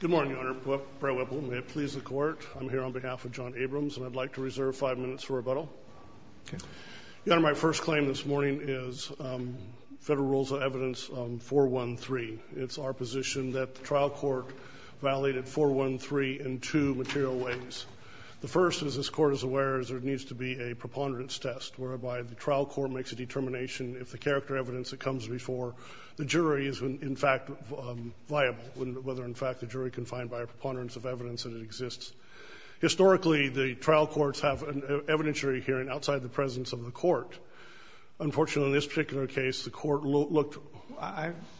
Good morning, Your Honor. Brad Whipple, may it please the court. I'm here on behalf of John Abrams, and I'd like to reserve five minutes for rebuttal. Your Honor, my first claim this morning is Federal Rules of Evidence 413. It's our position that the trial court violated 413 in two material ways. The first, as this court is aware, is there needs to be a preponderance test, whereby the trial court makes a determination if the character evidence that comes before the jury is, in fact, viable, whether, in fact, the jury can find by a preponderance of evidence that it exists. Historically, the trial courts have an evidentiary hearing outside the presence of the court. Unfortunately, in this particular case, the court looked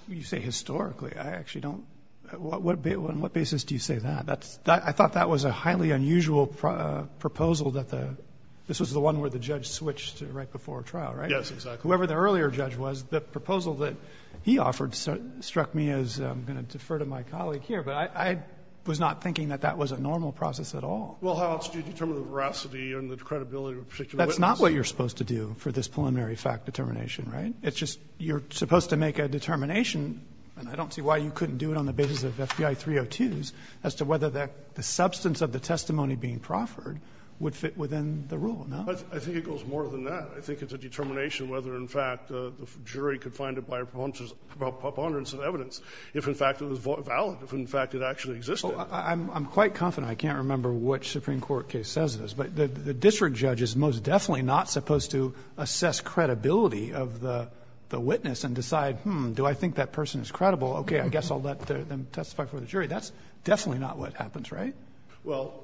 You say historically. I actually don't. On what basis do you say that? I thought that was a highly unusual proposal that the This was the one where the judge switched right before trial, right? Yes, exactly. Whoever the earlier judge was, the proposal that he offered struck me as, I'm going to defer to my colleague here, but I was not thinking that that was a normal process at all. Well, how else do you determine the veracity and the credibility of a particular witness? That's not what you're supposed to do for this preliminary fact determination, right? It's just you're supposed to make a determination, and I don't see why you couldn't do it on the basis of FBI 302s, as to whether the substance of the testimony being proffered would fit within the rule, no? I think it goes more than that. I think it's a determination whether, in fact, the jury could find it by a preponderance of evidence if, in fact, it was valid, if, in fact, it actually existed. Well, I'm quite confident. I can't remember which Supreme Court case says this, but the district judge is most definitely not supposed to assess credibility of the witness and decide, hmm, do I think that person is credible? Okay, I guess I'll let them testify before the jury. That's definitely not what happens, right? Well,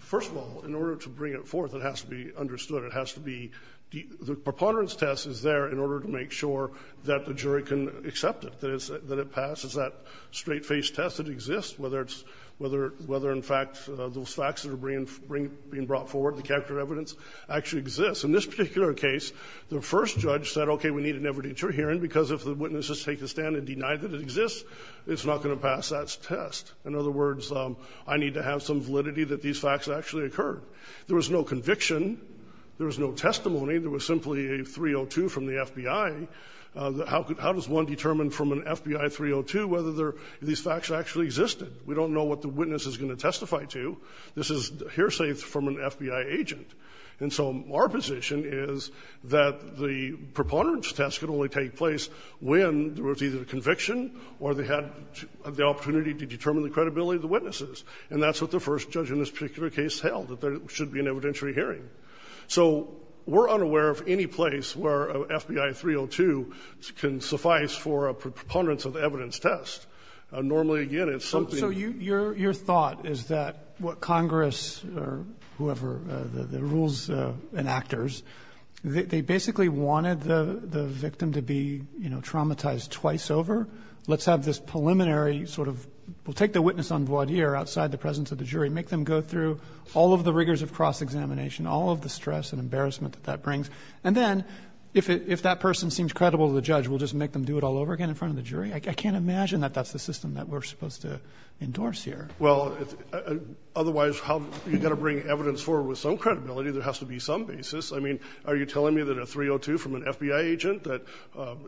first of all, in order to bring it forth, it has to be understood. It has to be the preponderance test is there in order to make sure that the jury can accept it, that it passes that straight-faced test that exists, whether it's whether, in fact, those facts that are being brought forward, the character of evidence, actually exists. In this particular case, the first judge said, okay, we need an evidentiary hearing, because if the witnesses take a stand and deny that it exists, it's not going to pass that test. In other words, I need to have some validity that these facts actually occurred. There was no conviction. There was no testimony. There was simply a 302 from the FBI. How does one determine from an FBI 302 whether these facts actually existed? We don't know what the witness is going to testify to. This is hearsay from an FBI agent. And so our position is that the preponderance test can only take place when there was either a conviction or they had the opportunity to determine the credibility of the witnesses. And that's what the first judge in this particular case held, that there should be an evidentiary hearing. So we're unaware of any place where a FBI 302 can suffice for a preponderance of the evidence test. Normally, again, it's something that you can't do. Robertson So your thought is that what Congress or whoever, the rules enactors, they basically wanted the victim to be, you know, traumatized twice over. Let's have this preliminary sort of, we'll take the witness on voir dire outside the presence of the jury, make them go through all of the rigors of cross-examination, all of the stress and embarrassment that that brings. And then if that person seems credible to the judge, we'll just make them do it all over again in front of the jury? I can't imagine that that's the system that we're supposed to endorse here. McCullough Well, otherwise, you've got to bring evidence forward with some credibility. There has to be some basis. I mean, are you telling me that a 302 from an FBI agent that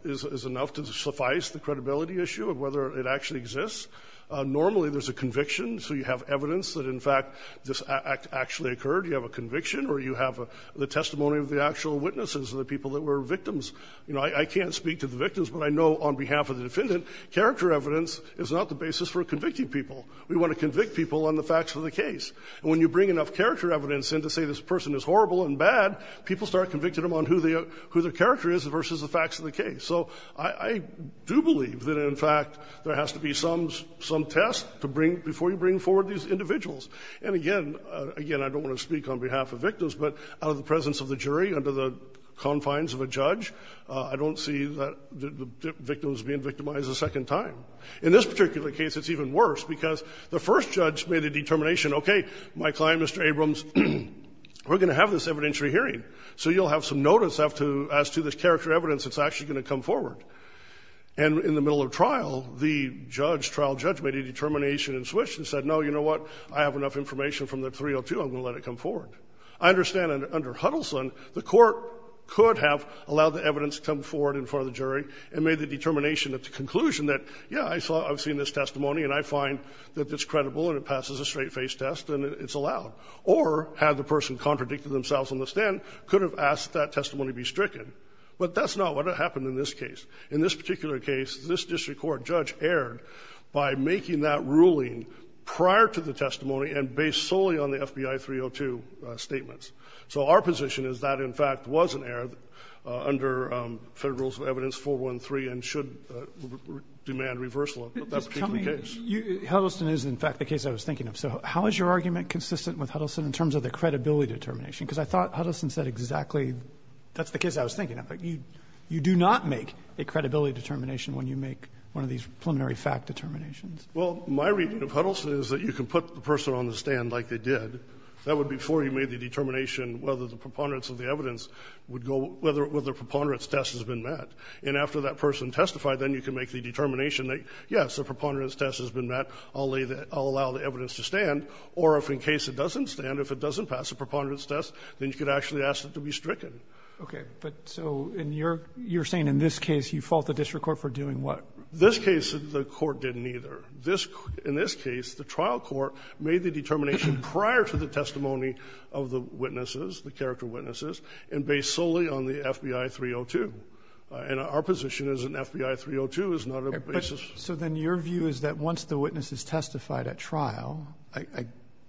is enough to suffice the credibility issue of whether it actually exists? Normally, there's a conviction, so you have evidence that in fact this act actually occurred. You have a conviction or you have the testimony of the actual witnesses or the people that were victims. You know, I can't speak to the victims, but I know on behalf of the defendant, character evidence is not the basis for convicting people. We want to convict people on the facts of the case. And when you bring enough character evidence in to say this person is horrible and bad, people start convicting them on who their character is versus the facts of the case. So I do believe that in fact there has to be some test before you bring forward these individuals. And again, I don't want to speak on behalf of victims, but out of the presence of the jury, under the confines of a judge, I don't see the victims being victimized a second time. In this particular case, it's even worse because the first judge made a determination, okay, my client, Mr. Abrams, we're going to have this evidentiary hearing, so you'll have some notice as to the character evidence that's actually going to come forward. And in the middle of trial, the judge, trial judge, made a determination and switched and said, no, you know what, I have enough information from the 302, I'm going to let it come forward. I understand under Huddleston the court could have allowed the evidence to come forward in front of the jury and made the determination at the conclusion that, yeah, I saw I've seen this testimony and I find that it's credible and it passes a straight-faced test and it's allowed. Or had the person contradicted themselves on the stand, could have asked that testimony be stricken. But that's not what happened in this case. In this particular case, this district court judge erred by making that ruling prior to the testimony and based solely on the FBI 302 statements. So our position is that in fact was an error under Federal Rules of Evidence 413 and should demand reversal of that particular case. Just tell me, Huddleston is in fact the case I was thinking of, so how is your argument consistent with Huddleston in terms of the credibility determination? Because I thought Huddleston said exactly, that's the case I was thinking of. You do not make a credibility determination when you make one of these preliminary fact determinations. Well, my reading of Huddleston is that you can put the person on the stand like they did. That would be before you made the determination whether the preponderance of the evidence would go, whether the preponderance test has been met. And after that person testified, then you can make the determination that, yes, a preponderance test has been met. I'll allow the evidence to stand. Or if in case it doesn't stand, if it doesn't pass a preponderance test, then you could actually ask it to be stricken. Okay. But so you're saying in this case you fault the district court for doing what? This case, the court didn't either. In this case, the trial court made the determination prior to the testimony of the witnesses, the character witnesses, and based solely on the FBI 302. And our position is that an FBI 302 is not a basis. So then your view is that once the witnesses testified at trial,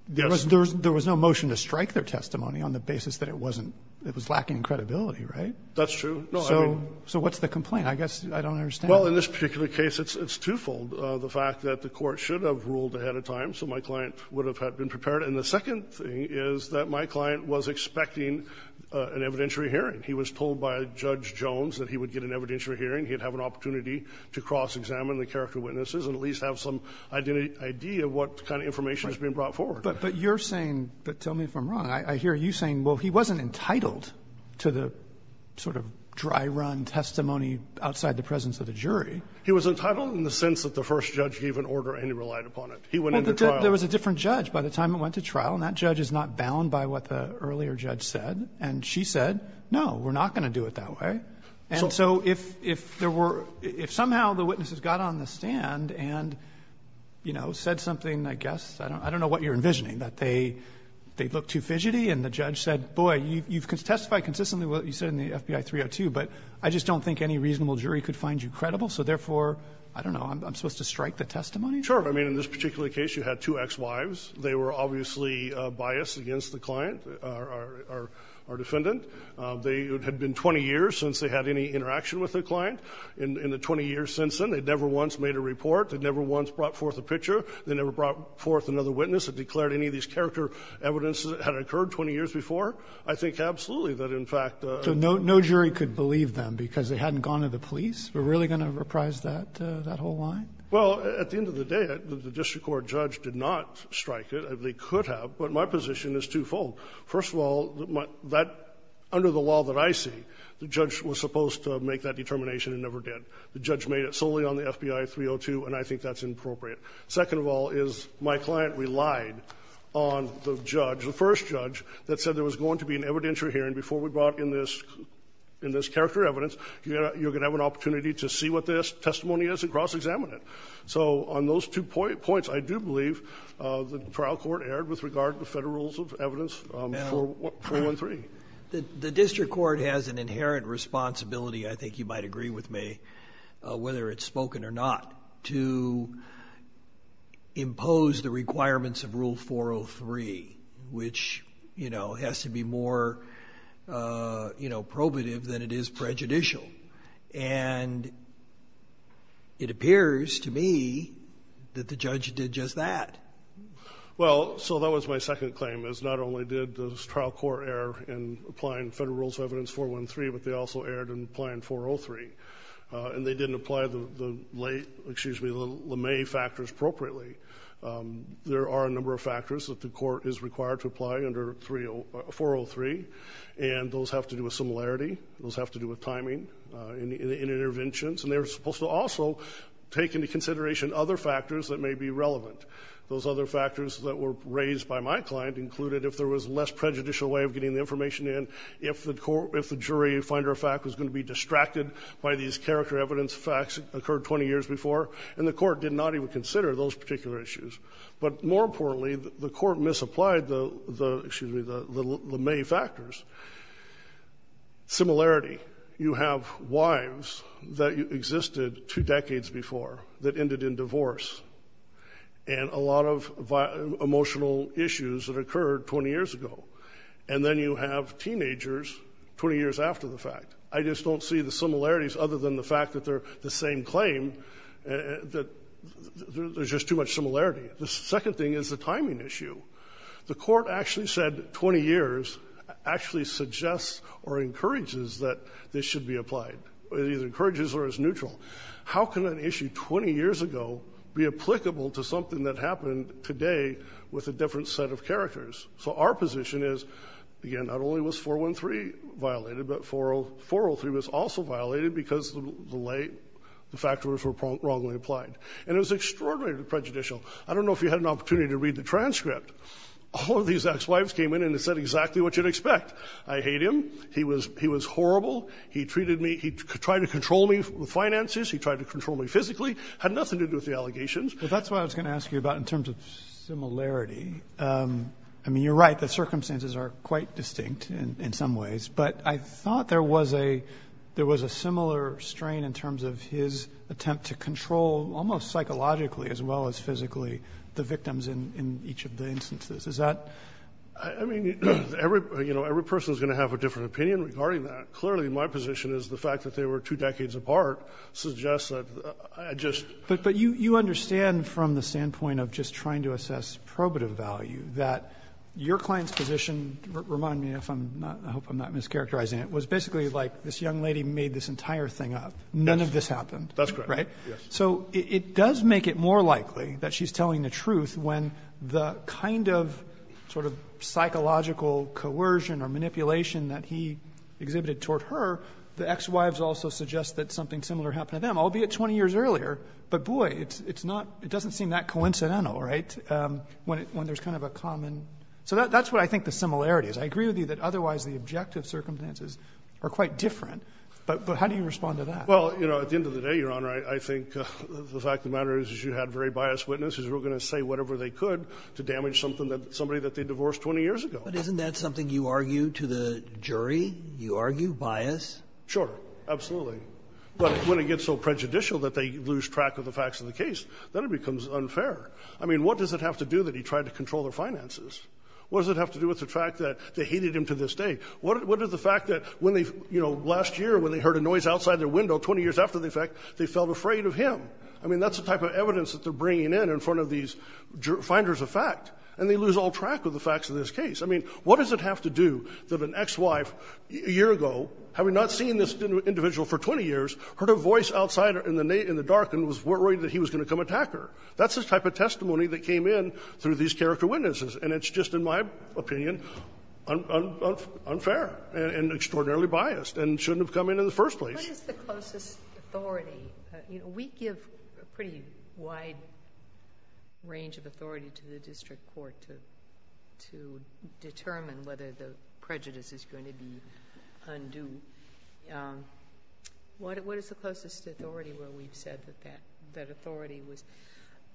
there was no motion to strike their testimony on the basis that it wasn't, it was lacking in credibility, right? That's true. So what's the complaint? I guess I don't understand. Well, in this particular case, it's twofold. The fact that the court should have ruled ahead of time, so my client would have had been prepared. And the second thing is that my client was expecting an evidentiary hearing. He was told by Judge Jones that he would get an evidentiary hearing. He would have an opportunity to cross-examine the character witnesses and at least have some idea of what kind of information is being brought forward. But you're saying, but tell me if I'm wrong, I hear you saying, well, he wasn't entitled to the sort of dry-run testimony outside the presence of the jury. He was entitled in the sense that the first judge gave an order and he relied upon it. He went into trial. Well, there was a different judge by the time it went to trial. And that judge is not bound by what the earlier judge said. And she said, no, we're not going to do it that way. And so if there were – if somehow the witnesses got on the stand and, you know, said something, I guess, I don't know what you're envisioning, that they looked too fidgety and the judge said, boy, you've testified consistently what you said in the FBI 302, but I just don't think any reasonable jury could find you credible, so therefore, I don't know, I'm supposed to strike the testimony? Sure. I mean, in this particular case, you had two ex-wives. They were obviously biased against the client, our defendant. It had been 20 years since they had any interaction with the client. In the 20 years since then, they'd never once made a report. They'd never once brought forth a picture. They never brought forth another witness that declared any of these character evidence that had occurred 20 years before. I think absolutely that, in fact – So no jury could believe them because they hadn't gone to the police? We're really going to reprise that whole line? Well, at the end of the day, the district court judge did not strike it. They could have, but my position is twofold. First of all, that, under the law that I see, the judge was supposed to make that determination and never did. The judge made it solely on the FBI 302, and I think that's inappropriate. Second of all is my client relied on the judge, the first judge, that said there was going to be an evidentiary hearing before we brought in this character evidence, you're going to have an opportunity to see what this testimony is and cross-examine it. So on those two points, I do believe the trial court erred with regard to Federal Rules of Evidence 413. The district court has an inherent responsibility, I think you might agree with me, whether it's spoken or not, to impose the requirements of Rule 403, which has to be more probative than it is prejudicial. And it appears to me that the judge did just that. Well, so that was my second claim, is not only did this trial court err in applying Federal Rules of Evidence 413, but they also erred in applying 403. And they didn't apply the late, excuse me, the LeMay factors appropriately. There are a number of factors that the court is required to apply under 403, and those have to do with similarity. Those have to do with timing. In interventions, and they're supposed to also take into consideration other factors that may be relevant. Those other factors that were raised by my client included if there was less prejudicial way of getting the information in, if the jury finder of fact was going to be distracted by these character evidence facts that occurred 20 years before, and the court did not even consider those particular issues. But more importantly, the court misapplied the, excuse me, the LeMay factors. Similarity. You have wives that existed two decades before that ended in divorce, and a lot of emotional issues that occurred 20 years ago. And then you have teenagers 20 years after the fact. I just don't see the similarities other than the fact that they're the same claim, that there's just too much similarity. The second thing is the timing issue. The court actually said 20 years actually suggests or encourages that this should be applied. It either encourages or is neutral. How can an issue 20 years ago be applicable to something that happened today with a different set of characters? So our position is, again, not only was 413 violated, but 403 was also violated because the factors were wrongly applied. And it was extraordinarily prejudicial. I don't know if you had an opportunity to read the transcript. All of these ex-wives came in and said exactly what you'd expect. I hate him. He was horrible. He treated me, he tried to control me with finances. He tried to control me physically. Had nothing to do with the allegations. Well, that's what I was going to ask you about in terms of similarity. I mean, you're right. The circumstances are quite distinct in some ways. But I thought there was a similar strain in terms of his attempt to control almost psychologically as well as physically the victims in each of the instances. Is that? I mean, every person is going to have a different opinion regarding that. Clearly, my position is the fact that they were two decades apart suggests that I just But you understand from the standpoint of just trying to assess probative value that your client's position, remind me if I'm not, I hope I'm not mischaracterizing it, was basically like this young lady made this entire thing up. None of this happened. That's correct. Right? So it does make it more likely that she's telling the truth when the kind of sort of psychological coercion or manipulation that he exhibited toward her, the ex-wives also suggest that something similar happened to them, albeit 20 years earlier. But boy, it's not, it doesn't seem that coincidental, right? When there's kind of a common, so that's what I think the similarity is. I agree with you that otherwise the objective circumstances are quite different. But how do you respond to that? Well, you know, at the end of the day, Your Honor, I think the fact of the matter is you had very biased witnesses who were going to say whatever they could to damage something that somebody that they divorced 20 years ago. But isn't that something you argue to the jury? You argue bias? Sure. Absolutely. But when it gets so prejudicial that they lose track of the facts of the case, then it becomes unfair. I mean, what does it have to do that he tried to control their finances? What does it have to do with the fact that they hated him to this day? What does the fact that when they, you know, last year when they heard a noise outside their window 20 years after the fact, they felt afraid of him? I mean, that's the type of evidence that they're bringing in in front of these finders of fact, and they lose all track of the facts of this case. I mean, what does it have to do that an ex-wife a year ago, having not seen this individual for 20 years, heard a voice outside in the dark and was worried that he was going to come attack her? That's the type of testimony that came in through these character witnesses. And it's just, in my opinion, unfair and extraordinarily biased and shouldn't have come in in the first place. What is the closest authority? You know, we give a pretty wide range of authority to the district court to determine whether the prejudice is going to be undue. What is the closest authority where we've said that that authority was used?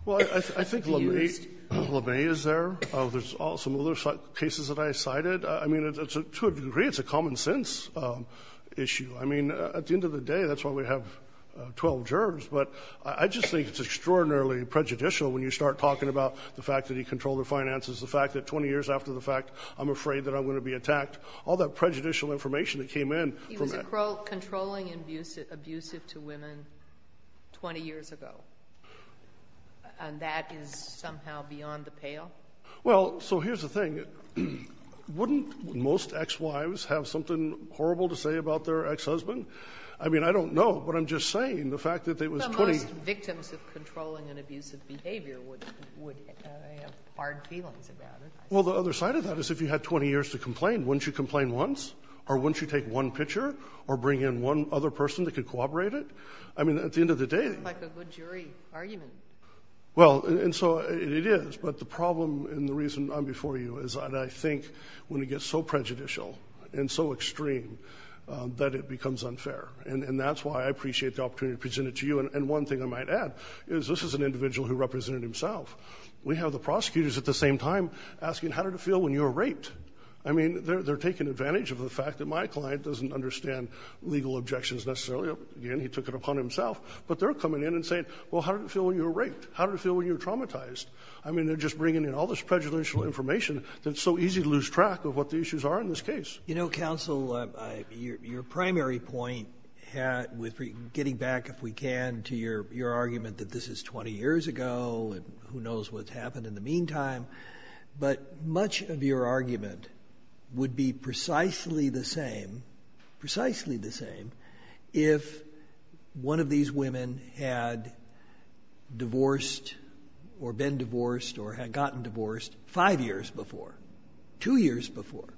Well, I think LeMay is there. There's some other cases that I cited. I mean, to a degree, it's a common sense issue. I mean, at the end of the day, that's why we have 12 jurors. But I just think it's extraordinarily prejudicial when you start talking about the fact that he controlled the finances, the fact that 20 years after the fact, I'm afraid that I'm going to be attacked. All that prejudicial information that came in from that. He was controlling and abusive to women 20 years ago. And that is somehow beyond the pale? Well, so here's the thing. Wouldn't most ex-wives have something horrible to say about their ex-husband? I mean, I don't know, but I'm just saying the fact that there was 20... But most victims of controlling and abusive behavior would have hard feelings about it. Well, the other side of that is if you had 20 years to complain, wouldn't you complain once? Or wouldn't you take one picture? Or bring in one other person that could cooperate it? I mean, at the end of the day... It's like a good jury argument. Well, and so it is. But the problem and the reason I'm before you is that I think when it gets so prejudicial and so extreme that it becomes unfair. And that's why I appreciate the opportunity to present it to you. And one thing I might add is this is an individual who represented himself. We have the prosecutors at the same time asking, how did it feel when you were raped? I mean, they're taking advantage of the fact that my client doesn't understand legal objections necessarily. Again, he took it upon himself. But they're coming in and saying, well, how did it feel when you were raped? How did it feel when you were traumatized? I mean, they're just bringing in all this prejudicial information that's so easy to lose track of what the issues are in this case. You know, counsel, your primary point with getting back, if we can, to your argument that this is 20 years ago and who knows what's happened in the meantime. But much of your argument would be precisely the same if one of these women had divorced or been divorced or had gotten divorced five years before. Two years before.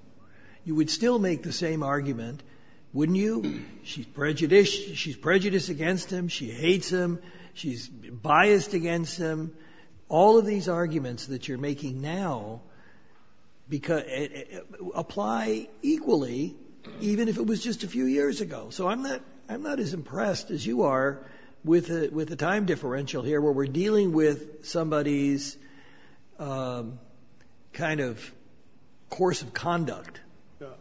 You would still make the same argument, wouldn't you? She's prejudiced against him. She hates him. She's biased against him. All of these arguments that you're making now apply equally even if it was just a few years ago. So I'm not as impressed as you are with the time differential here where we're dealing with somebody's kind of course of conduct.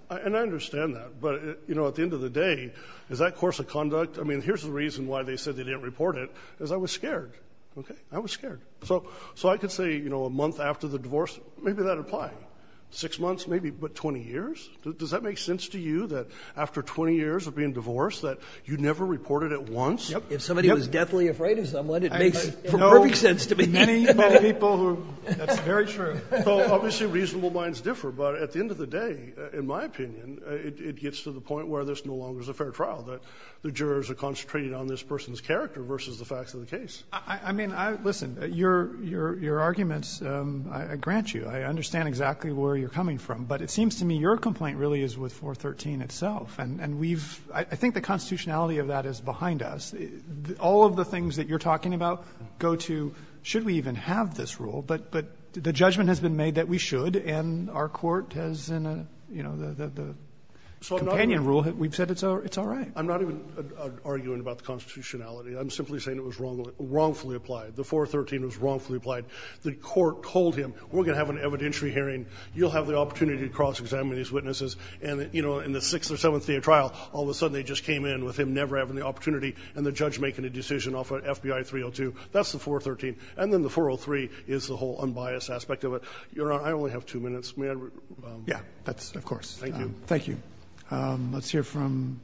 And I understand that, but at the end of the day, is that course of conduct? I mean, here's the reason why they said they didn't report it is I was scared. I was scared. So I could say a month after the divorce, maybe that'd apply. Six months, maybe, but 20 years? Does that make sense to you, that after 20 years of being divorced, that you never reported it once? If somebody was deathly afraid of someone, it makes perfect sense to me. That's very true. Obviously, reasonable minds differ, but at the end of the day, in my opinion, it gets to the point where there's no longer a fair trial, that the jurors are concentrating on this person's character versus the facts of the case. Listen, your arguments, I grant you, I understand exactly where you're coming from, but it seems to me your complaint really is with 413 itself. And we've, I think the constitutionality of that is behind us. All of the things that you're talking about go to, should we even have this rule? But the judgment has been made that we should, and our Court has in a, you know, the companion rule, we've said it's all right. I'm not even arguing about the constitutionality. I'm simply saying it was wrongfully applied. The 413 was wrongfully applied. The Court told him, we're going to have an evidentiary hearing, you'll have the opportunity to cross-examine these witnesses, and in the 6th or 7th day of trial, all of a sudden they just came in with him never having the opportunity and the judge making a decision off of FBI 302. That's the 413. And then the 403 is the whole unbiased aspect of it. Your Honor, I only have two minutes. May I? Yeah, that's, of course. Thank you. Let's hear from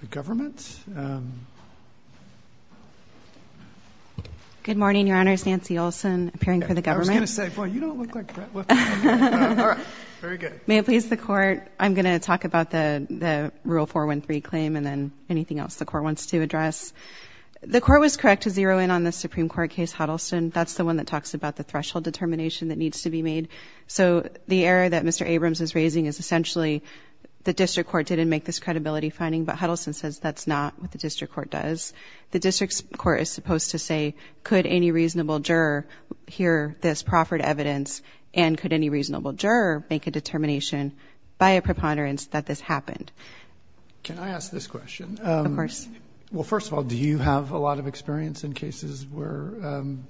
the government. Good morning, Your Honor. Nancy Olson, appearing for the government. I was going to say, boy, you don't look like that. Very good. May it please the Court, I'm going to talk about the Rule 413 claim, and then anything else the Court wants to address. The Court was correct to zero in on the Supreme Court case, Huddleston. That's the one that talks about the threshold determination that needs to be made. So, the error that Mr. Abrams is raising is essentially, the District Court didn't make this credibility finding, but that's not what the District Court does. The District Court is supposed to say, could any reasonable juror hear this proffered evidence, and could any reasonable juror make a determination by a preponderance that this happened? Can I ask this question? Of course. Well, first of all, do you have a lot of experience in cases where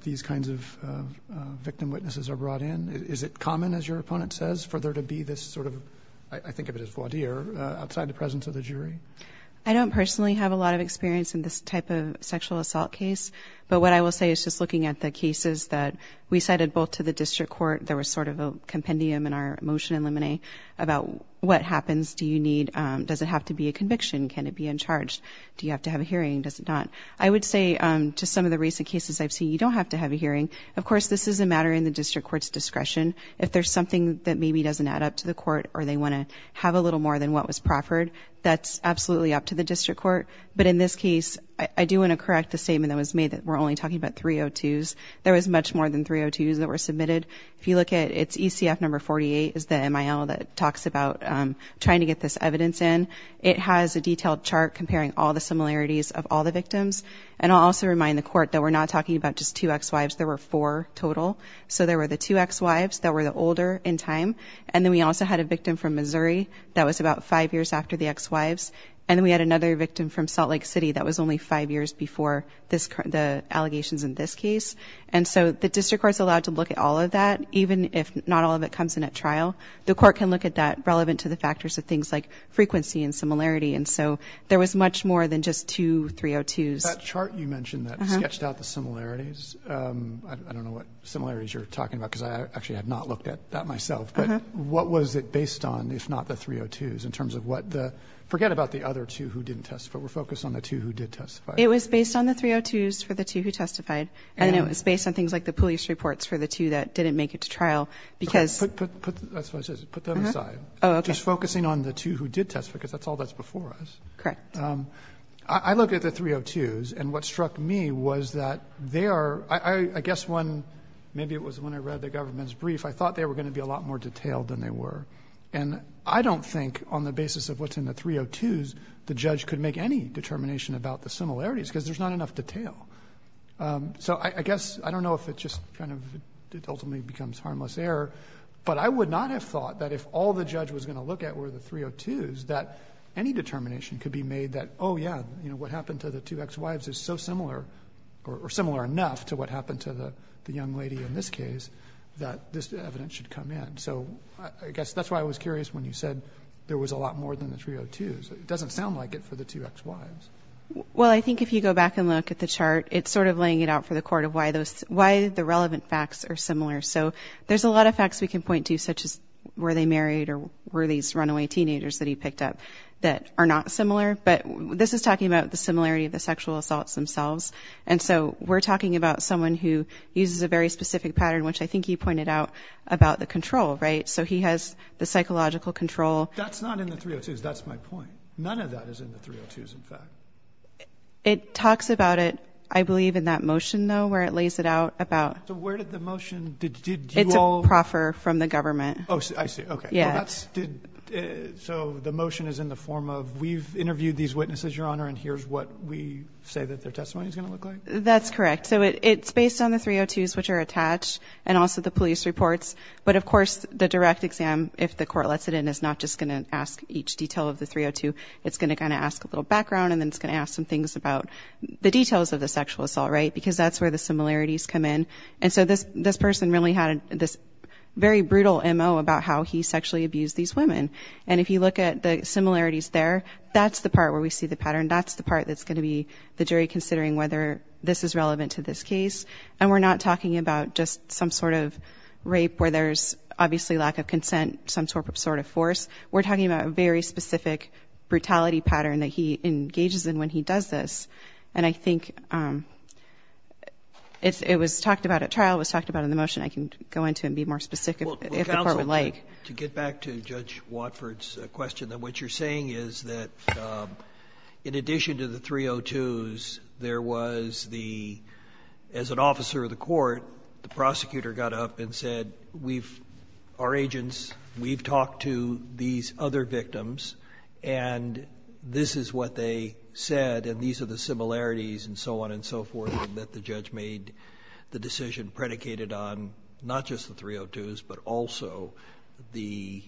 these kinds of victim witnesses are brought in? Is it common, as your opponent says, for there to be this sort of, I think of it as voir dire, outside presence of the jury? I don't personally have a lot of experience in this type of sexual assault case, but what I will say is, just looking at the cases that we cited both to the District Court, there was sort of a compendium in our motion in Lemonet about what happens, do you need, does it have to be a conviction? Can it be in charge? Do you have to have a hearing? Does it not? I would say to some of the recent cases I've seen, you don't have to have a hearing. Of course, this is a matter in the District Court's discretion. If there's something that maybe doesn't add up to the Court, or they want to have a little more than what was proffered, that's absolutely up to the District Court. But in this case, I do want to correct the statement that was made that we're only talking about 302s. There was much more than 302s that were submitted. If you look at, it's ECF number 48, is the MIL that talks about trying to get this evidence in. It has a detailed chart comparing all the similarities of all the victims. And I'll also remind the Court that we're not talking about just two ex-wives, there were four total. So there were the two ex-wives that were the older in time, and then we also had a victim from Missouri that was about five years after the ex-wives, and then we had another victim from Salt Lake City that was only five years before the allegations in this case. And so the District Court's allowed to look at all of that, even if not all of it comes in at trial. The Court can look at that relevant to the factors of things like frequency and similarity. And so there was much more than just two 302s. That chart you mentioned that sketched out the similarities, I don't know what similarities you're talking about, because I don't know what was it based on, if not the 302s, in terms of what the forget about the other two who didn't testify, we're focused on the two who did testify. It was based on the 302s for the two who testified, and it was based on things like the police reports for the two that didn't make it to trial, because Put them aside. Just focusing on the two who did testify, because that's all that's before us. I looked at the 302s, and what struck me was that they are, I guess when maybe it was when I read the government's report, they were more detailed than they were. And I don't think, on the basis of what's in the 302s, the judge could make any determination about the similarities, because there's not enough detail. So I guess, I don't know if it just ultimately becomes harmless error, but I would not have thought that if all the judge was going to look at were the 302s, that any determination could be made that, oh yeah, what happened to the two ex-wives is so similar, or similar enough to what happened to the young lady in this case, that this evidence should come in. So I guess that's why I was curious when you said there was a lot more than the 302s. It doesn't sound like it for the two ex-wives. Well, I think if you go back and look at the chart, it's sort of laying it out for the court of why the relevant facts are similar. So there's a lot of facts we can point to, such as were they married or were these runaway teenagers that he picked up that are not similar, but this is talking about the similarity of the sexual assaults themselves. And so we're talking about someone who uses a very specific pattern, which I think you pointed out about the control, right? So he has the psychological control. That's not in the 302s, that's my point. None of that is in the 302s, in fact. It talks about it, I believe, in that motion, though, where it lays it out about... So where did the motion... It's a proffer from the government. Oh, I see, okay. So the motion is in the form of, we've interviewed these witnesses, Your Honor, and here's what we say that their testimony is going to look like? That's correct. So it's based on the 302s, which are attached, and also the police reports. But of course, the direct exam, if the court lets it in, is not just going to ask each detail of the 302. It's going to kind of ask a little background and then it's going to ask some things about the details of the sexual assault, right? Because that's where the similarities come in. And so this person really had this very brutal MO about how he sexually abused these women. And if you look at the similarities there, that's the part where we see the pattern. That's the part that's going to be the jury considering whether this is relevant to this case. And we're not talking about just some sort of rape where there's obviously lack of consent, some sort of force. We're talking about a very specific brutality pattern that he engages in when he does this. And I think it was talked about at trial, it was talked about in the motion. I can go into it and be more specific if the court would like. Well, counsel, to get back to Judge Watford's question, what you're saying is that in addition to the 302s, there was the, as an officer of the court, the prosecutor got up and said we've, our agents, we've talked to these other victims and this is what they said and these are the similarities and so on and so forth that the judge made the decision predicated on not just the 302s but also the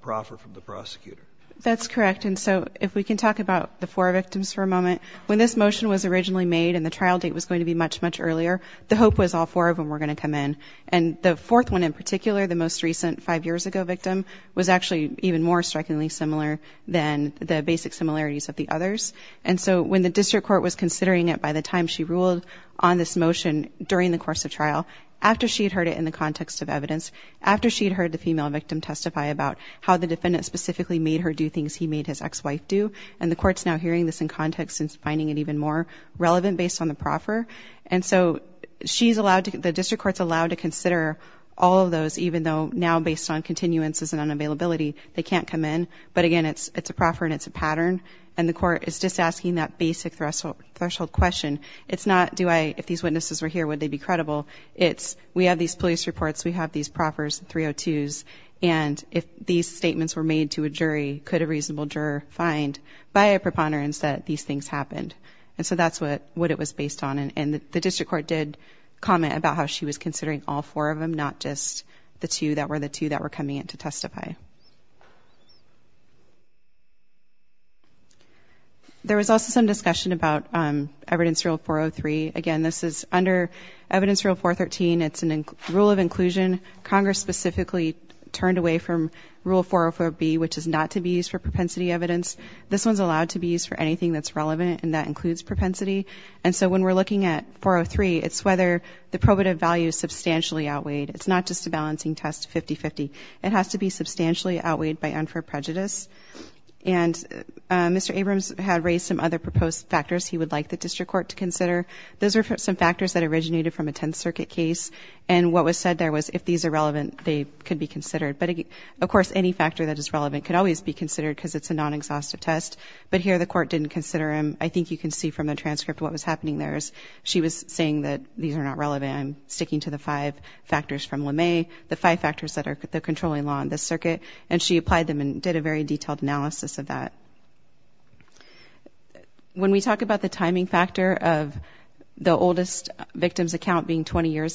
proffer from the prosecutor. That's correct. And so if we can talk about the four victims for a moment, when this motion was originally made and the trial date was going to be much, much earlier, the hope was all four of them were going to come in. And the fourth one in particular, the most recent five years ago victim, was actually even more strikingly similar than the basic similarities of the others. And so when the district court was considering it by the time she ruled on this motion during the course of trial, after she had heard it in the context of evidence, after she had heard the female victim testify about how the defendant specifically made her do things he made his ex-wife do, and the court's now hearing this in context and finding it even more relevant based on the proffer and so she's allowed to, the district court's allowed to consider all of those even though now based on continuances and unavailability, they can't come in. But again, it's a proffer and it's a pattern and the court is just asking that basic threshold question. It's not, do I, if these witnesses were here would they be credible? It's, we have these police reports, we have these proffers, 302s, and if these statements were made to a jury, could a reasonable juror find by a preponderance that these things happened? And so that's what it was based on and the district court did comment about how she was considering all four of them, not just the two that were the two that were coming in to testify. There was also some discussion about evidence rule 403. Again, this is under evidence rule 413. It's a rule of inclusion. Congress specifically turned away from rule 404B, which is not to be used for propensity evidence. This one's allowed to be used for anything that's relevant and that includes propensity. And so when we're looking at 403, it's whether the probative value is substantially outweighed. It's not just a balancing test 50-50. It has to be substantially outweighed by unfair prejudice. And Mr. Abrams had raised some other proposed factors he would like the district court to consider. Those are some factors that originated from a 10th circuit case. And what was said there was if these are relevant, they could be considered. But, of course, any factor that is relevant could always be considered because it's a non-exhaustive test. But here the court didn't consider them. I think you can see from the transcript what was happening there. She was saying that these are not relevant. I'm sticking to the five factors from LeMay, the five factors that are the controlling law in this circuit. And she applied them and did a very detailed analysis of that. When we talk about the timing factor of the discussion, she said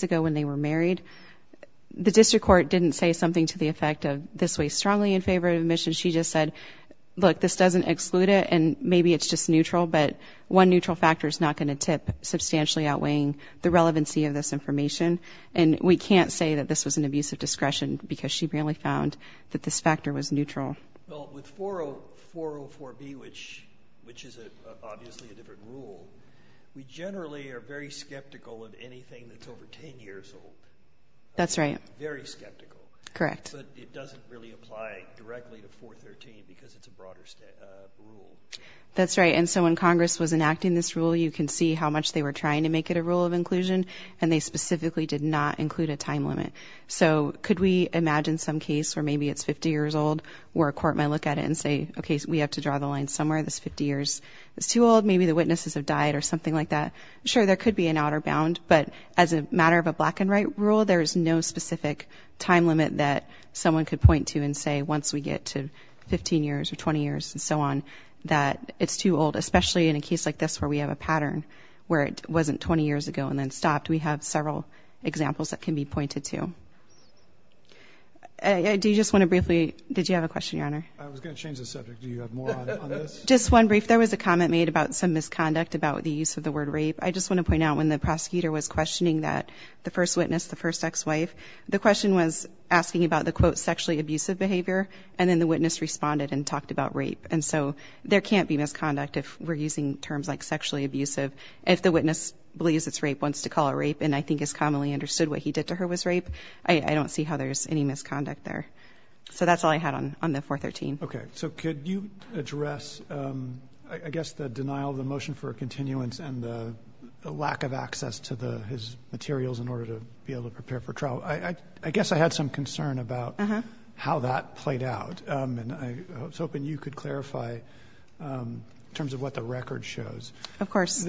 that the district court didn't say something to the effect of this way strongly in favor of admission. She just said, look, this doesn't exclude it and maybe it's just neutral. But one neutral factor is not going to tip substantially outweighing the relevancy of this information. And we can't say that this was an abuse of discretion because she barely found that this factor was neutral. With 404B, which is obviously a different rule, we generally are very skeptical of anything that's over 10 years old. Very skeptical. But it doesn't really apply directly to 413 because it's a broader rule. When Congress was enacting this rule, you can see how much they were trying to make it a rule of inclusion and they specifically did not include a time limit. So could we imagine some case where maybe it's 50 years old where a court might look at it and say, okay, we have to draw the line somewhere. This 50 years is too old. Maybe the witnesses have died or something like that. Sure, there could be an outer bound, but as a matter of a black and white rule, there is no specific time limit that someone could point to and say once we get to 15 years or 20 years and so on, that it's too old. Especially in a case like this where we have a pattern where it wasn't 20 years ago and then stopped. We have several examples that can be pointed to. Do you just want to briefly Did you have a question, Your Honor? I was going to change the subject. Do you have more on this? Just one brief. There was a comment made about some misconduct about the use of the word rape. I just want to point out when the prosecutor was questioning that the first witness, the first ex-wife, the question was asking about the quote sexually abusive behavior and then the witness responded and talked about rape. And so there can't be misconduct if we're using terms like sexually abusive. If the witness believes it's rape, wants to call it rape, and I think is commonly understood what he did to her was rape, I don't see how there's any misconduct there. So that's all I had on the 413. Okay. So could you address I guess the denial of the motion for a continuance and the lack of access to his materials in order to be able to prepare for trial. I guess I had some concern about how that played out and I was hoping you could clarify in terms of what the record shows. Of course.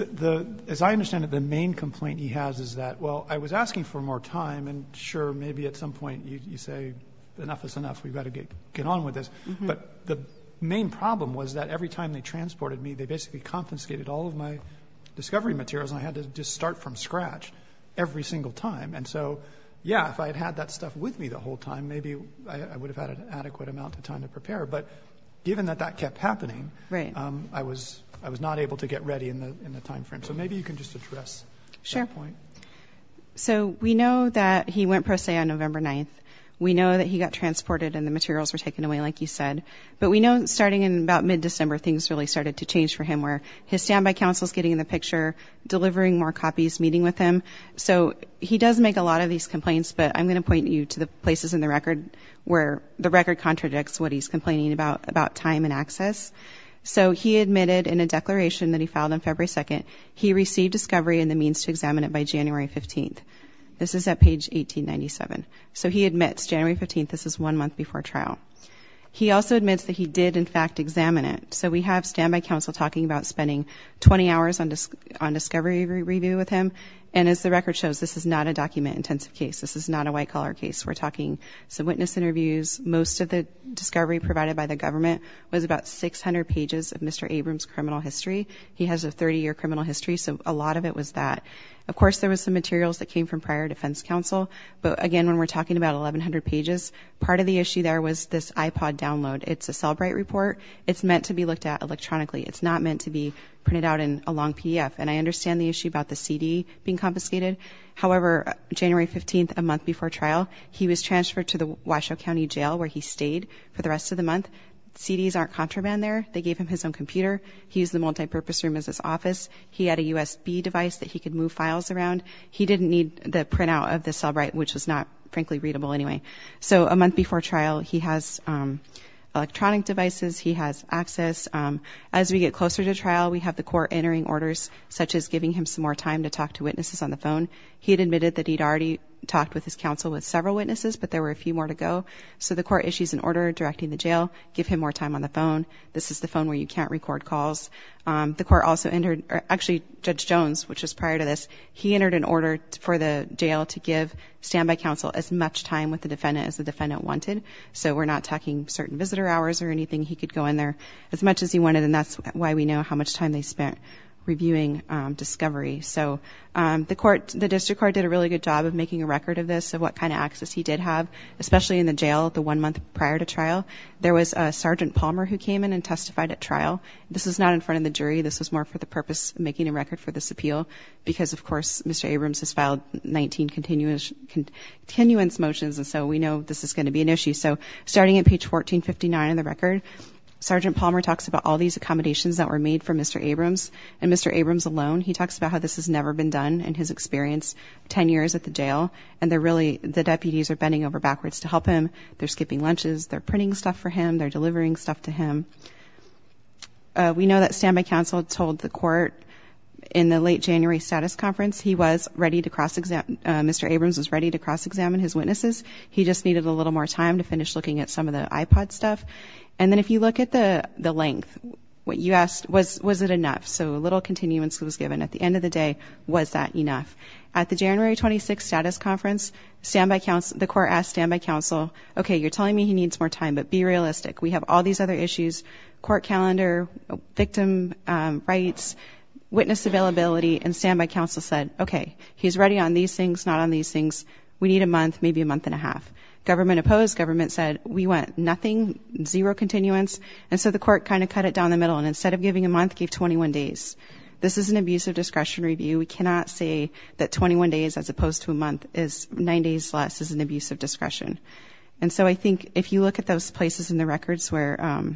As I understand it, the main complaint he has is that, well, I was asking for more time and sure, maybe at some point you say enough is enough. We've got to get on with this. But the main problem was that every time they transported me, they basically confiscated all of my discovery materials and I had to just start from scratch every single time. And so yeah, if I had had that stuff with me the whole time maybe I would have had an adequate amount of time to prepare. But given that that kept happening, I was not able to get ready in the time frame. So maybe you can just address that point. Sure. So we know that he went pro se on November 9th. We know that he got transported and the materials were taken away, like you said. But we know starting in about mid-December things really started to change for him where his standby counsel is getting in the picture, delivering more copies, meeting with him. So he does make a lot of these complaints but I'm going to point you to the places in the record where the record contradicts what he's complaining about, about time and access. So he admitted in a declaration that he filed on February 2nd he received discovery and the means to this is at page 1897. So he admits January 15th, this is one month before trial. He also admits that he did in fact examine it. So we have standby counsel talking about spending 20 hours on discovery review with him. And as the record shows, this is not a document-intensive case. This is not a white-collar case. We're talking some witness interviews. Most of the discovery provided by the government was about 600 pages of Mr. Abrams' criminal history. He has a 30-year criminal history, so a lot of it was that. Of course, there was some materials that came from prior defense counsel. But again, when we're talking about 1,100 pages, part of the issue there was this iPod download. It's a Cellbrite report. It's meant to be looked at electronically. It's not meant to be printed out in a long PDF. And I understand the issue about the CD being confiscated. However, January 15th, a month before trial, he was transferred to the Washoe County Jail where he stayed for the rest of the month. CDs aren't contraband there. They gave him his own computer. He used the multipurpose room as his office. He had a USB device that he could move files around. He didn't need the printout of the Cellbrite, which was not, frankly, readable anyway. So a month before trial, he has electronic devices. He has access. As we get closer to trial, we have the court entering orders, such as giving him some more time to talk to witnesses on the phone. He had admitted that he'd already talked with his counsel with several witnesses, but there were a few more to go. So the court issues an order directing the jail, give him more time on the phone. This is the phone where you can't record calls. The court also entered, actually, Judge Jones, which was prior to this, he entered an order for the jail to give standby counsel as much time with the defendant as the defendant wanted. So we're not talking certain visitor hours or anything. He could go in there as much as he wanted, and that's why we know how much time they spent reviewing discovery. So the court, the district court did a really good job of making a record of this, of what kind of access he did have, especially in the jail the one month prior to trial. There was a Sergeant Palmer who came in and testified at trial. This is not in front of the jury. This was more for the purpose of making a record for this appeal, because of course, Mr. Abrams has filed 19 continuance motions, and so we know this is going to be an issue. So starting at page 1459 in the record, Sergeant Palmer talks about all these accommodations that were made for Mr. Abrams, and Mr. Abrams alone, he talks about how this has never been done in his experience 10 years at the jail, and they're really, the deputies are bending over backwards to help him. They're skipping lunches, they're delivering stuff to him. We know that standby counsel told the court in the late January status conference, he was ready to cross-examine, Mr. Abrams was ready to cross-examine his witnesses. He just needed a little more time to finish looking at some of the iPod stuff, and then if you look at the length, what you asked was, was it enough? So a little continuance was given. At the end of the day, was that enough? At the January 26 status conference, standby counsel, the court asked standby counsel, okay, you're going to have all these other issues, court calendar, victim rights, witness availability, and standby counsel said, okay, he's ready on these things, not on these things, we need a month, maybe a month and a half. Government opposed, government said, we want nothing, zero continuance, and so the court kind of cut it down the middle, and instead of giving a month, gave 21 days. This is an abusive discretion review. We cannot say that 21 days, as opposed to a month, is nine days less is an abusive discretion. And so I think if you look at those places in the records where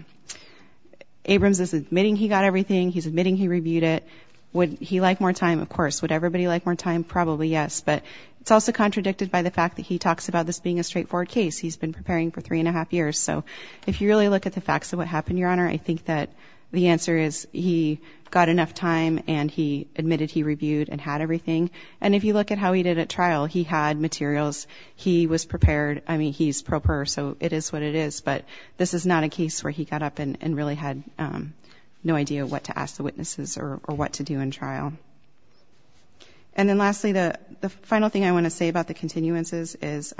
Abrams is admitting he got everything, he's admitting he reviewed it, would he like more time? Of course. Would everybody like more time? Probably yes, but it's also contradicted by the fact that he talks about this being a straightforward case. He's been preparing for three and a half years, so if you really look at the facts of what happened, Your Honor, I think that the answer is he got enough time, and he admitted he reviewed and had everything, and if you look at how he did at trial, he had materials, he was able to say it is what it is, but this is not a case where he got up and really had no idea what to ask the witnesses or what to do in trial. And then lastly, the final thing I want to say about the continuances is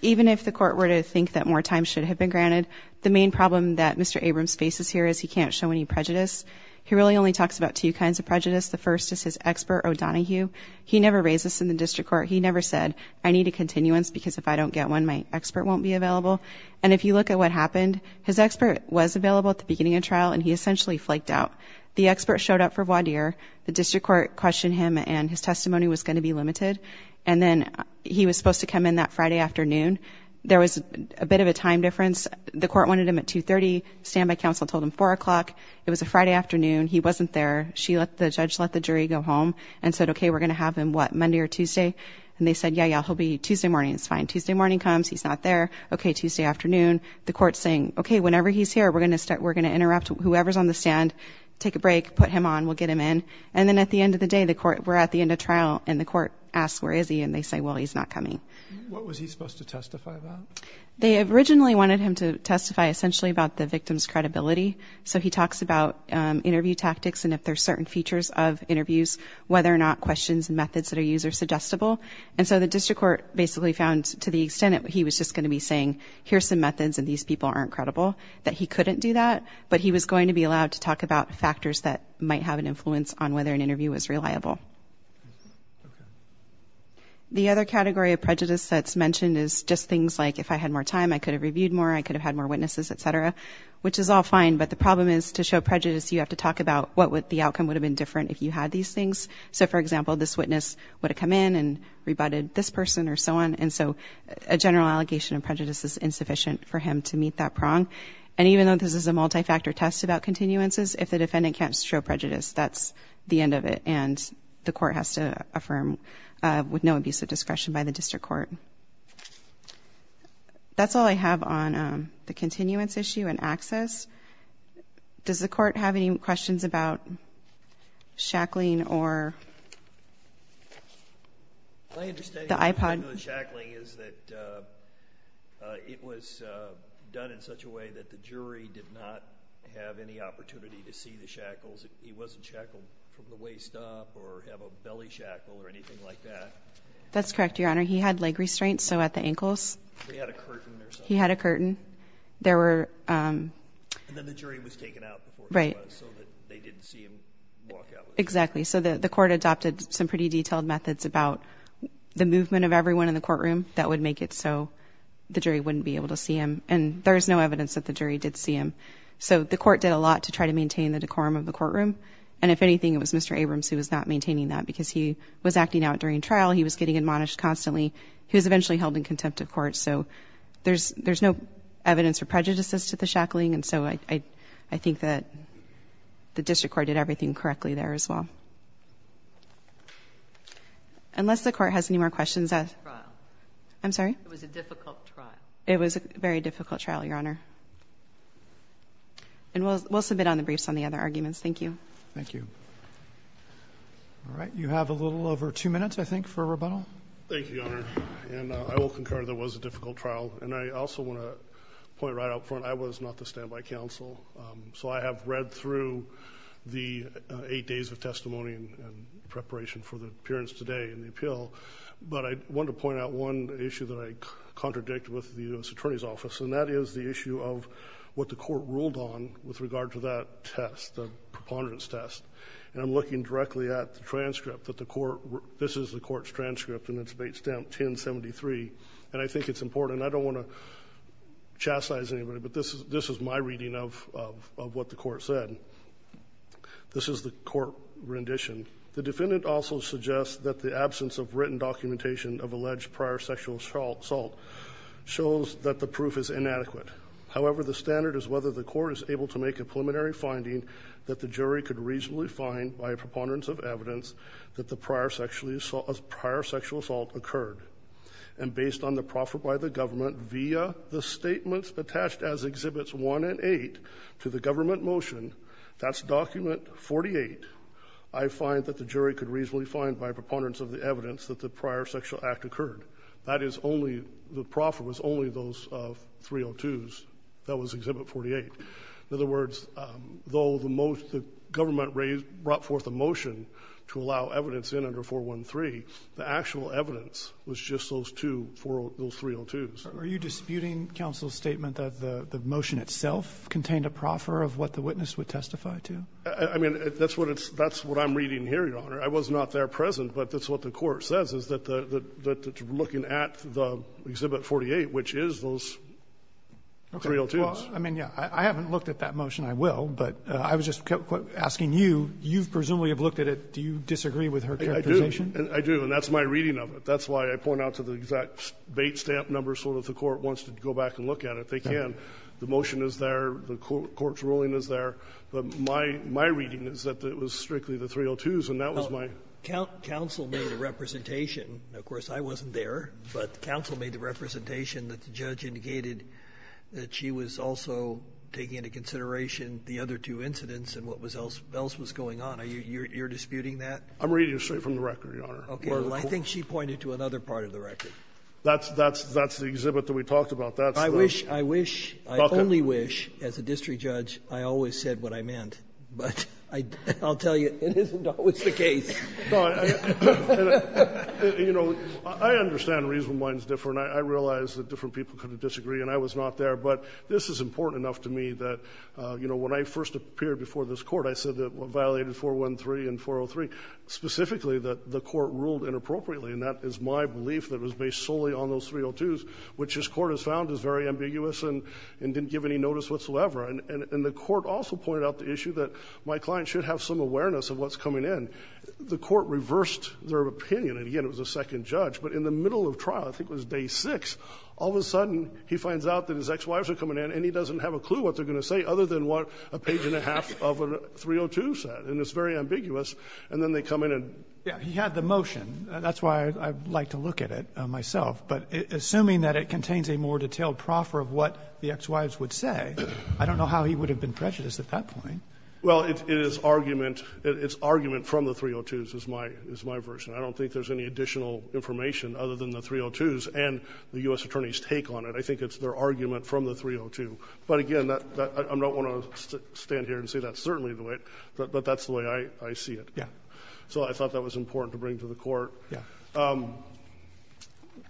even if the court were to think that more time should have been granted, the main problem that Mr. Abrams faces here is he can't show any prejudice. He really only talks about two kinds of prejudice. The first is his expert, O'Donohue. He never raised this in the district court. He never said, I need a continuance because if I don't get one, my expert won't be available. And if you look at what happened, his expert was available at the beginning of trial, and he essentially flaked out. The expert showed up for voir dire. The district court questioned him and his testimony was going to be limited, and then he was supposed to come in that Friday afternoon. There was a bit of a time difference. The court wanted him at 2.30. Standby counsel told him 4 o'clock. It was a Friday afternoon. He wasn't there. The judge let the jury go home and said, okay, we're going to have him, what, Monday or Tuesday? And they said, yeah, yeah, he'll be Tuesday morning. It's fine. Tuesday morning comes. He's not there. Okay, Tuesday afternoon. The court's saying, okay, whenever he's here, we're going to interrupt whoever's on the stand, take a break, put him on, we'll get him in. And then at the end of the day, the court, we're at the end of trial, and the court asks, where is he? And they say, well, he's not coming. What was he supposed to testify about? They originally wanted him to testify essentially about the victim's credibility. So he talks about interview tactics and if there's certain features of interviews, whether or not questions and methods that are used are suggestible. And so the district court basically found, to the extent that he was just going to be saying, here's some methods and these people aren't credible, that he couldn't do that. But he was going to be allowed to talk about factors that might have an influence on whether an interview was reliable. The other category of prejudice that's mentioned is just things like, if I had more time, I could have reviewed more, I could have had more witnesses, etc. Which is all fine, but the problem is to show prejudice, you have to talk about what the outcome would have been different if you had these things. So, for example, this witness would have come in and rebutted this person, or so on. And so, a general allegation of prejudice is insufficient for him to meet that prong. And even though this is a multi-factor test about continuances, if the defendant can't show prejudice, that's the end of it, and the court has to affirm with no abuse of discretion by the district court. That's all I have on the continuance issue and access. Does the court have any questions about shackling or the iPod? My understanding of shackling is that it was done in such a way that the jury did not have any opportunity to see the shackles. He wasn't shackled from the waist up or have a belly shackle or anything like that. That's correct, Your Honor. He had leg restraints, so at the ankles. He had a curtain. He had a curtain. And then the jury was taken out before he was, so that they didn't see him walk out. Exactly. So the court adopted some pretty detailed methods about the movement of everyone in the courtroom that would make it so the jury wouldn't be able to see him. And there's no evidence that the jury did see him. So the court did a lot to try to maintain the decorum of the courtroom. And if anything, it was Mr. Abrams who was not maintaining that because he was acting out during trial. He was getting admonished constantly. He was eventually held in contempt of court. So there's no evidence of prejudices to the shackling. And so I think that the district court did everything correctly there as well. Unless the court has any more questions. I'm sorry? It was a difficult trial. It was a very difficult trial, Your Honor. And we'll submit on the briefs on the other arguments. Thank you. Thank you. All right. You have a little over two minutes, I think, for rebuttal. Thank you, Your Honor. And I will concur that it was a difficult trial. And I also want to point right out front, I was not the standby counsel. So I have read through the eight days of testimony and preparation for the appearance today and the appeal. But I want to point out one issue that I contradict with the U.S. Attorney's Office, and that is the issue of what the court ruled on with regard to that test, the preponderance test. And I'm looking directly at the transcript that the court this is the court's transcript and it's based on 1073. And I think it's important and I don't want to chastise anybody, but this is my reading of what the court said. This is the court rendition. The defendant also suggests that the absence of written documentation of alleged prior sexual assault shows that the standard is whether the court is able to make a preliminary finding that the jury could reasonably find by preponderance of evidence that the prior sexual assault occurred. And based on the proffer by the government via the statements attached as Exhibits 1 and 8 to the government motion that's Document 48, I find that the jury could reasonably find by preponderance of the evidence that the prior sexual act occurred. That is only, the proffer was only those 302s. That was Exhibit 48. In other words, though the government brought forth a motion to allow evidence in under 413, the actual evidence was just those two, those 302s. Are you disputing counsel's statement that the motion itself contained a proffer of what the witness would testify to? I mean, that's what I'm reading here, Your Honor. I was not there present, but that's what the court says, is that looking at the Exhibit 48, which is those 302s. I mean, yeah. I haven't looked at that motion. I will, but I was just asking you. You presumably have looked at it. Do you disagree with her characterization? I do, and that's my reading of it. That's why I point out to the exact bait stamp number so that the court wants to go back and look at it. They can. The motion is there. The court's ruling is there. But my reading is that it was strictly the 302s, and that was my counsel made a representation. Of course, I wasn't there, but counsel made the representation that the judge indicated that she was also taking into consideration the other two incidents and what else was going on. You're disputing that? I'm reading it straight from the record, Your Honor. Okay. Well, I think she pointed to another part of the record. That's the exhibit that we talked about. I wish I only wish, as a district judge, I always said what I meant. But I'll tell you it isn't always the case. You know, I understand reason why it's different. I realize that different people could disagree, and I was not there, but this is important enough to me that, you know, when I first appeared before this court, I said that what violated 413 and 403 specifically that the court ruled inappropriately, and that is my belief that was based solely on those 302s, which this court has found is very ambiguous and didn't give any notice whatsoever. And the court also pointed out the issue that my client should have some awareness of what's coming in. The court reversed their opinion, and again, it was a day six. All of a sudden, he finds out that his ex-wives are coming in, and he doesn't have a clue what they're going to say other than what a page and a half of a 302 said, and it's very ambiguous. And then they come in and... Yeah. He had the motion. That's why I like to look at it myself. But assuming that it contains a more detailed proffer of what the ex-wives would say, I don't know how he would have been prejudiced at that point. Well, it is argument from the 302s is my version. I don't think there's any additional information other than the 302s and the U.S. Attorney's take on it. I think it's their argument from the 302. But again, I don't want to stand here and say that's certainly the way it is, but that's the way I see it. So I thought that was important to bring to the court. Yeah.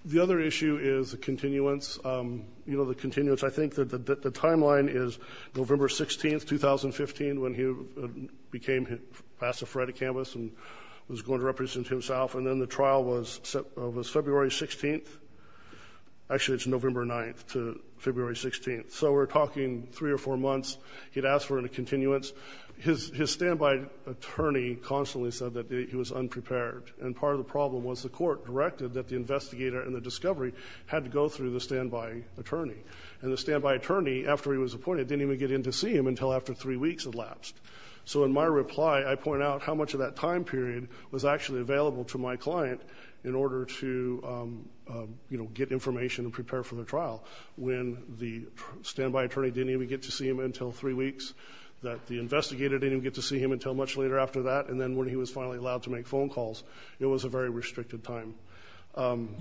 The other issue is the continuance. You know, the continuance. I think that the timeline is November 16th, 2015, when he became the pastor of Frederick Campus and was going to be the pastor for the rest of his life. Was February 16th? Actually, it's November 9th to February 16th. So we're talking three or four months. He'd asked for a continuance. His standby attorney constantly said that he was unprepared. And part of the problem was the court directed that the investigator and the discovery had to go through the standby attorney. And the standby attorney, after he was appointed, didn't even get in to see him until after three weeks had lapsed. So in my reply, I point out how much of that time period was actually available to my client in order to get information and prepare for the trial. When the standby attorney didn't even get to see him until three weeks, that the investigator didn't even get to see him until much later after that, and then when he was finally allowed to make phone calls, it was a very restricted time.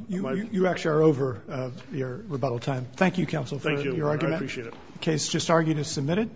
You actually are over your rebuttal time. Thank you, counsel, for your argument. I appreciate it. The case just argued is submitted.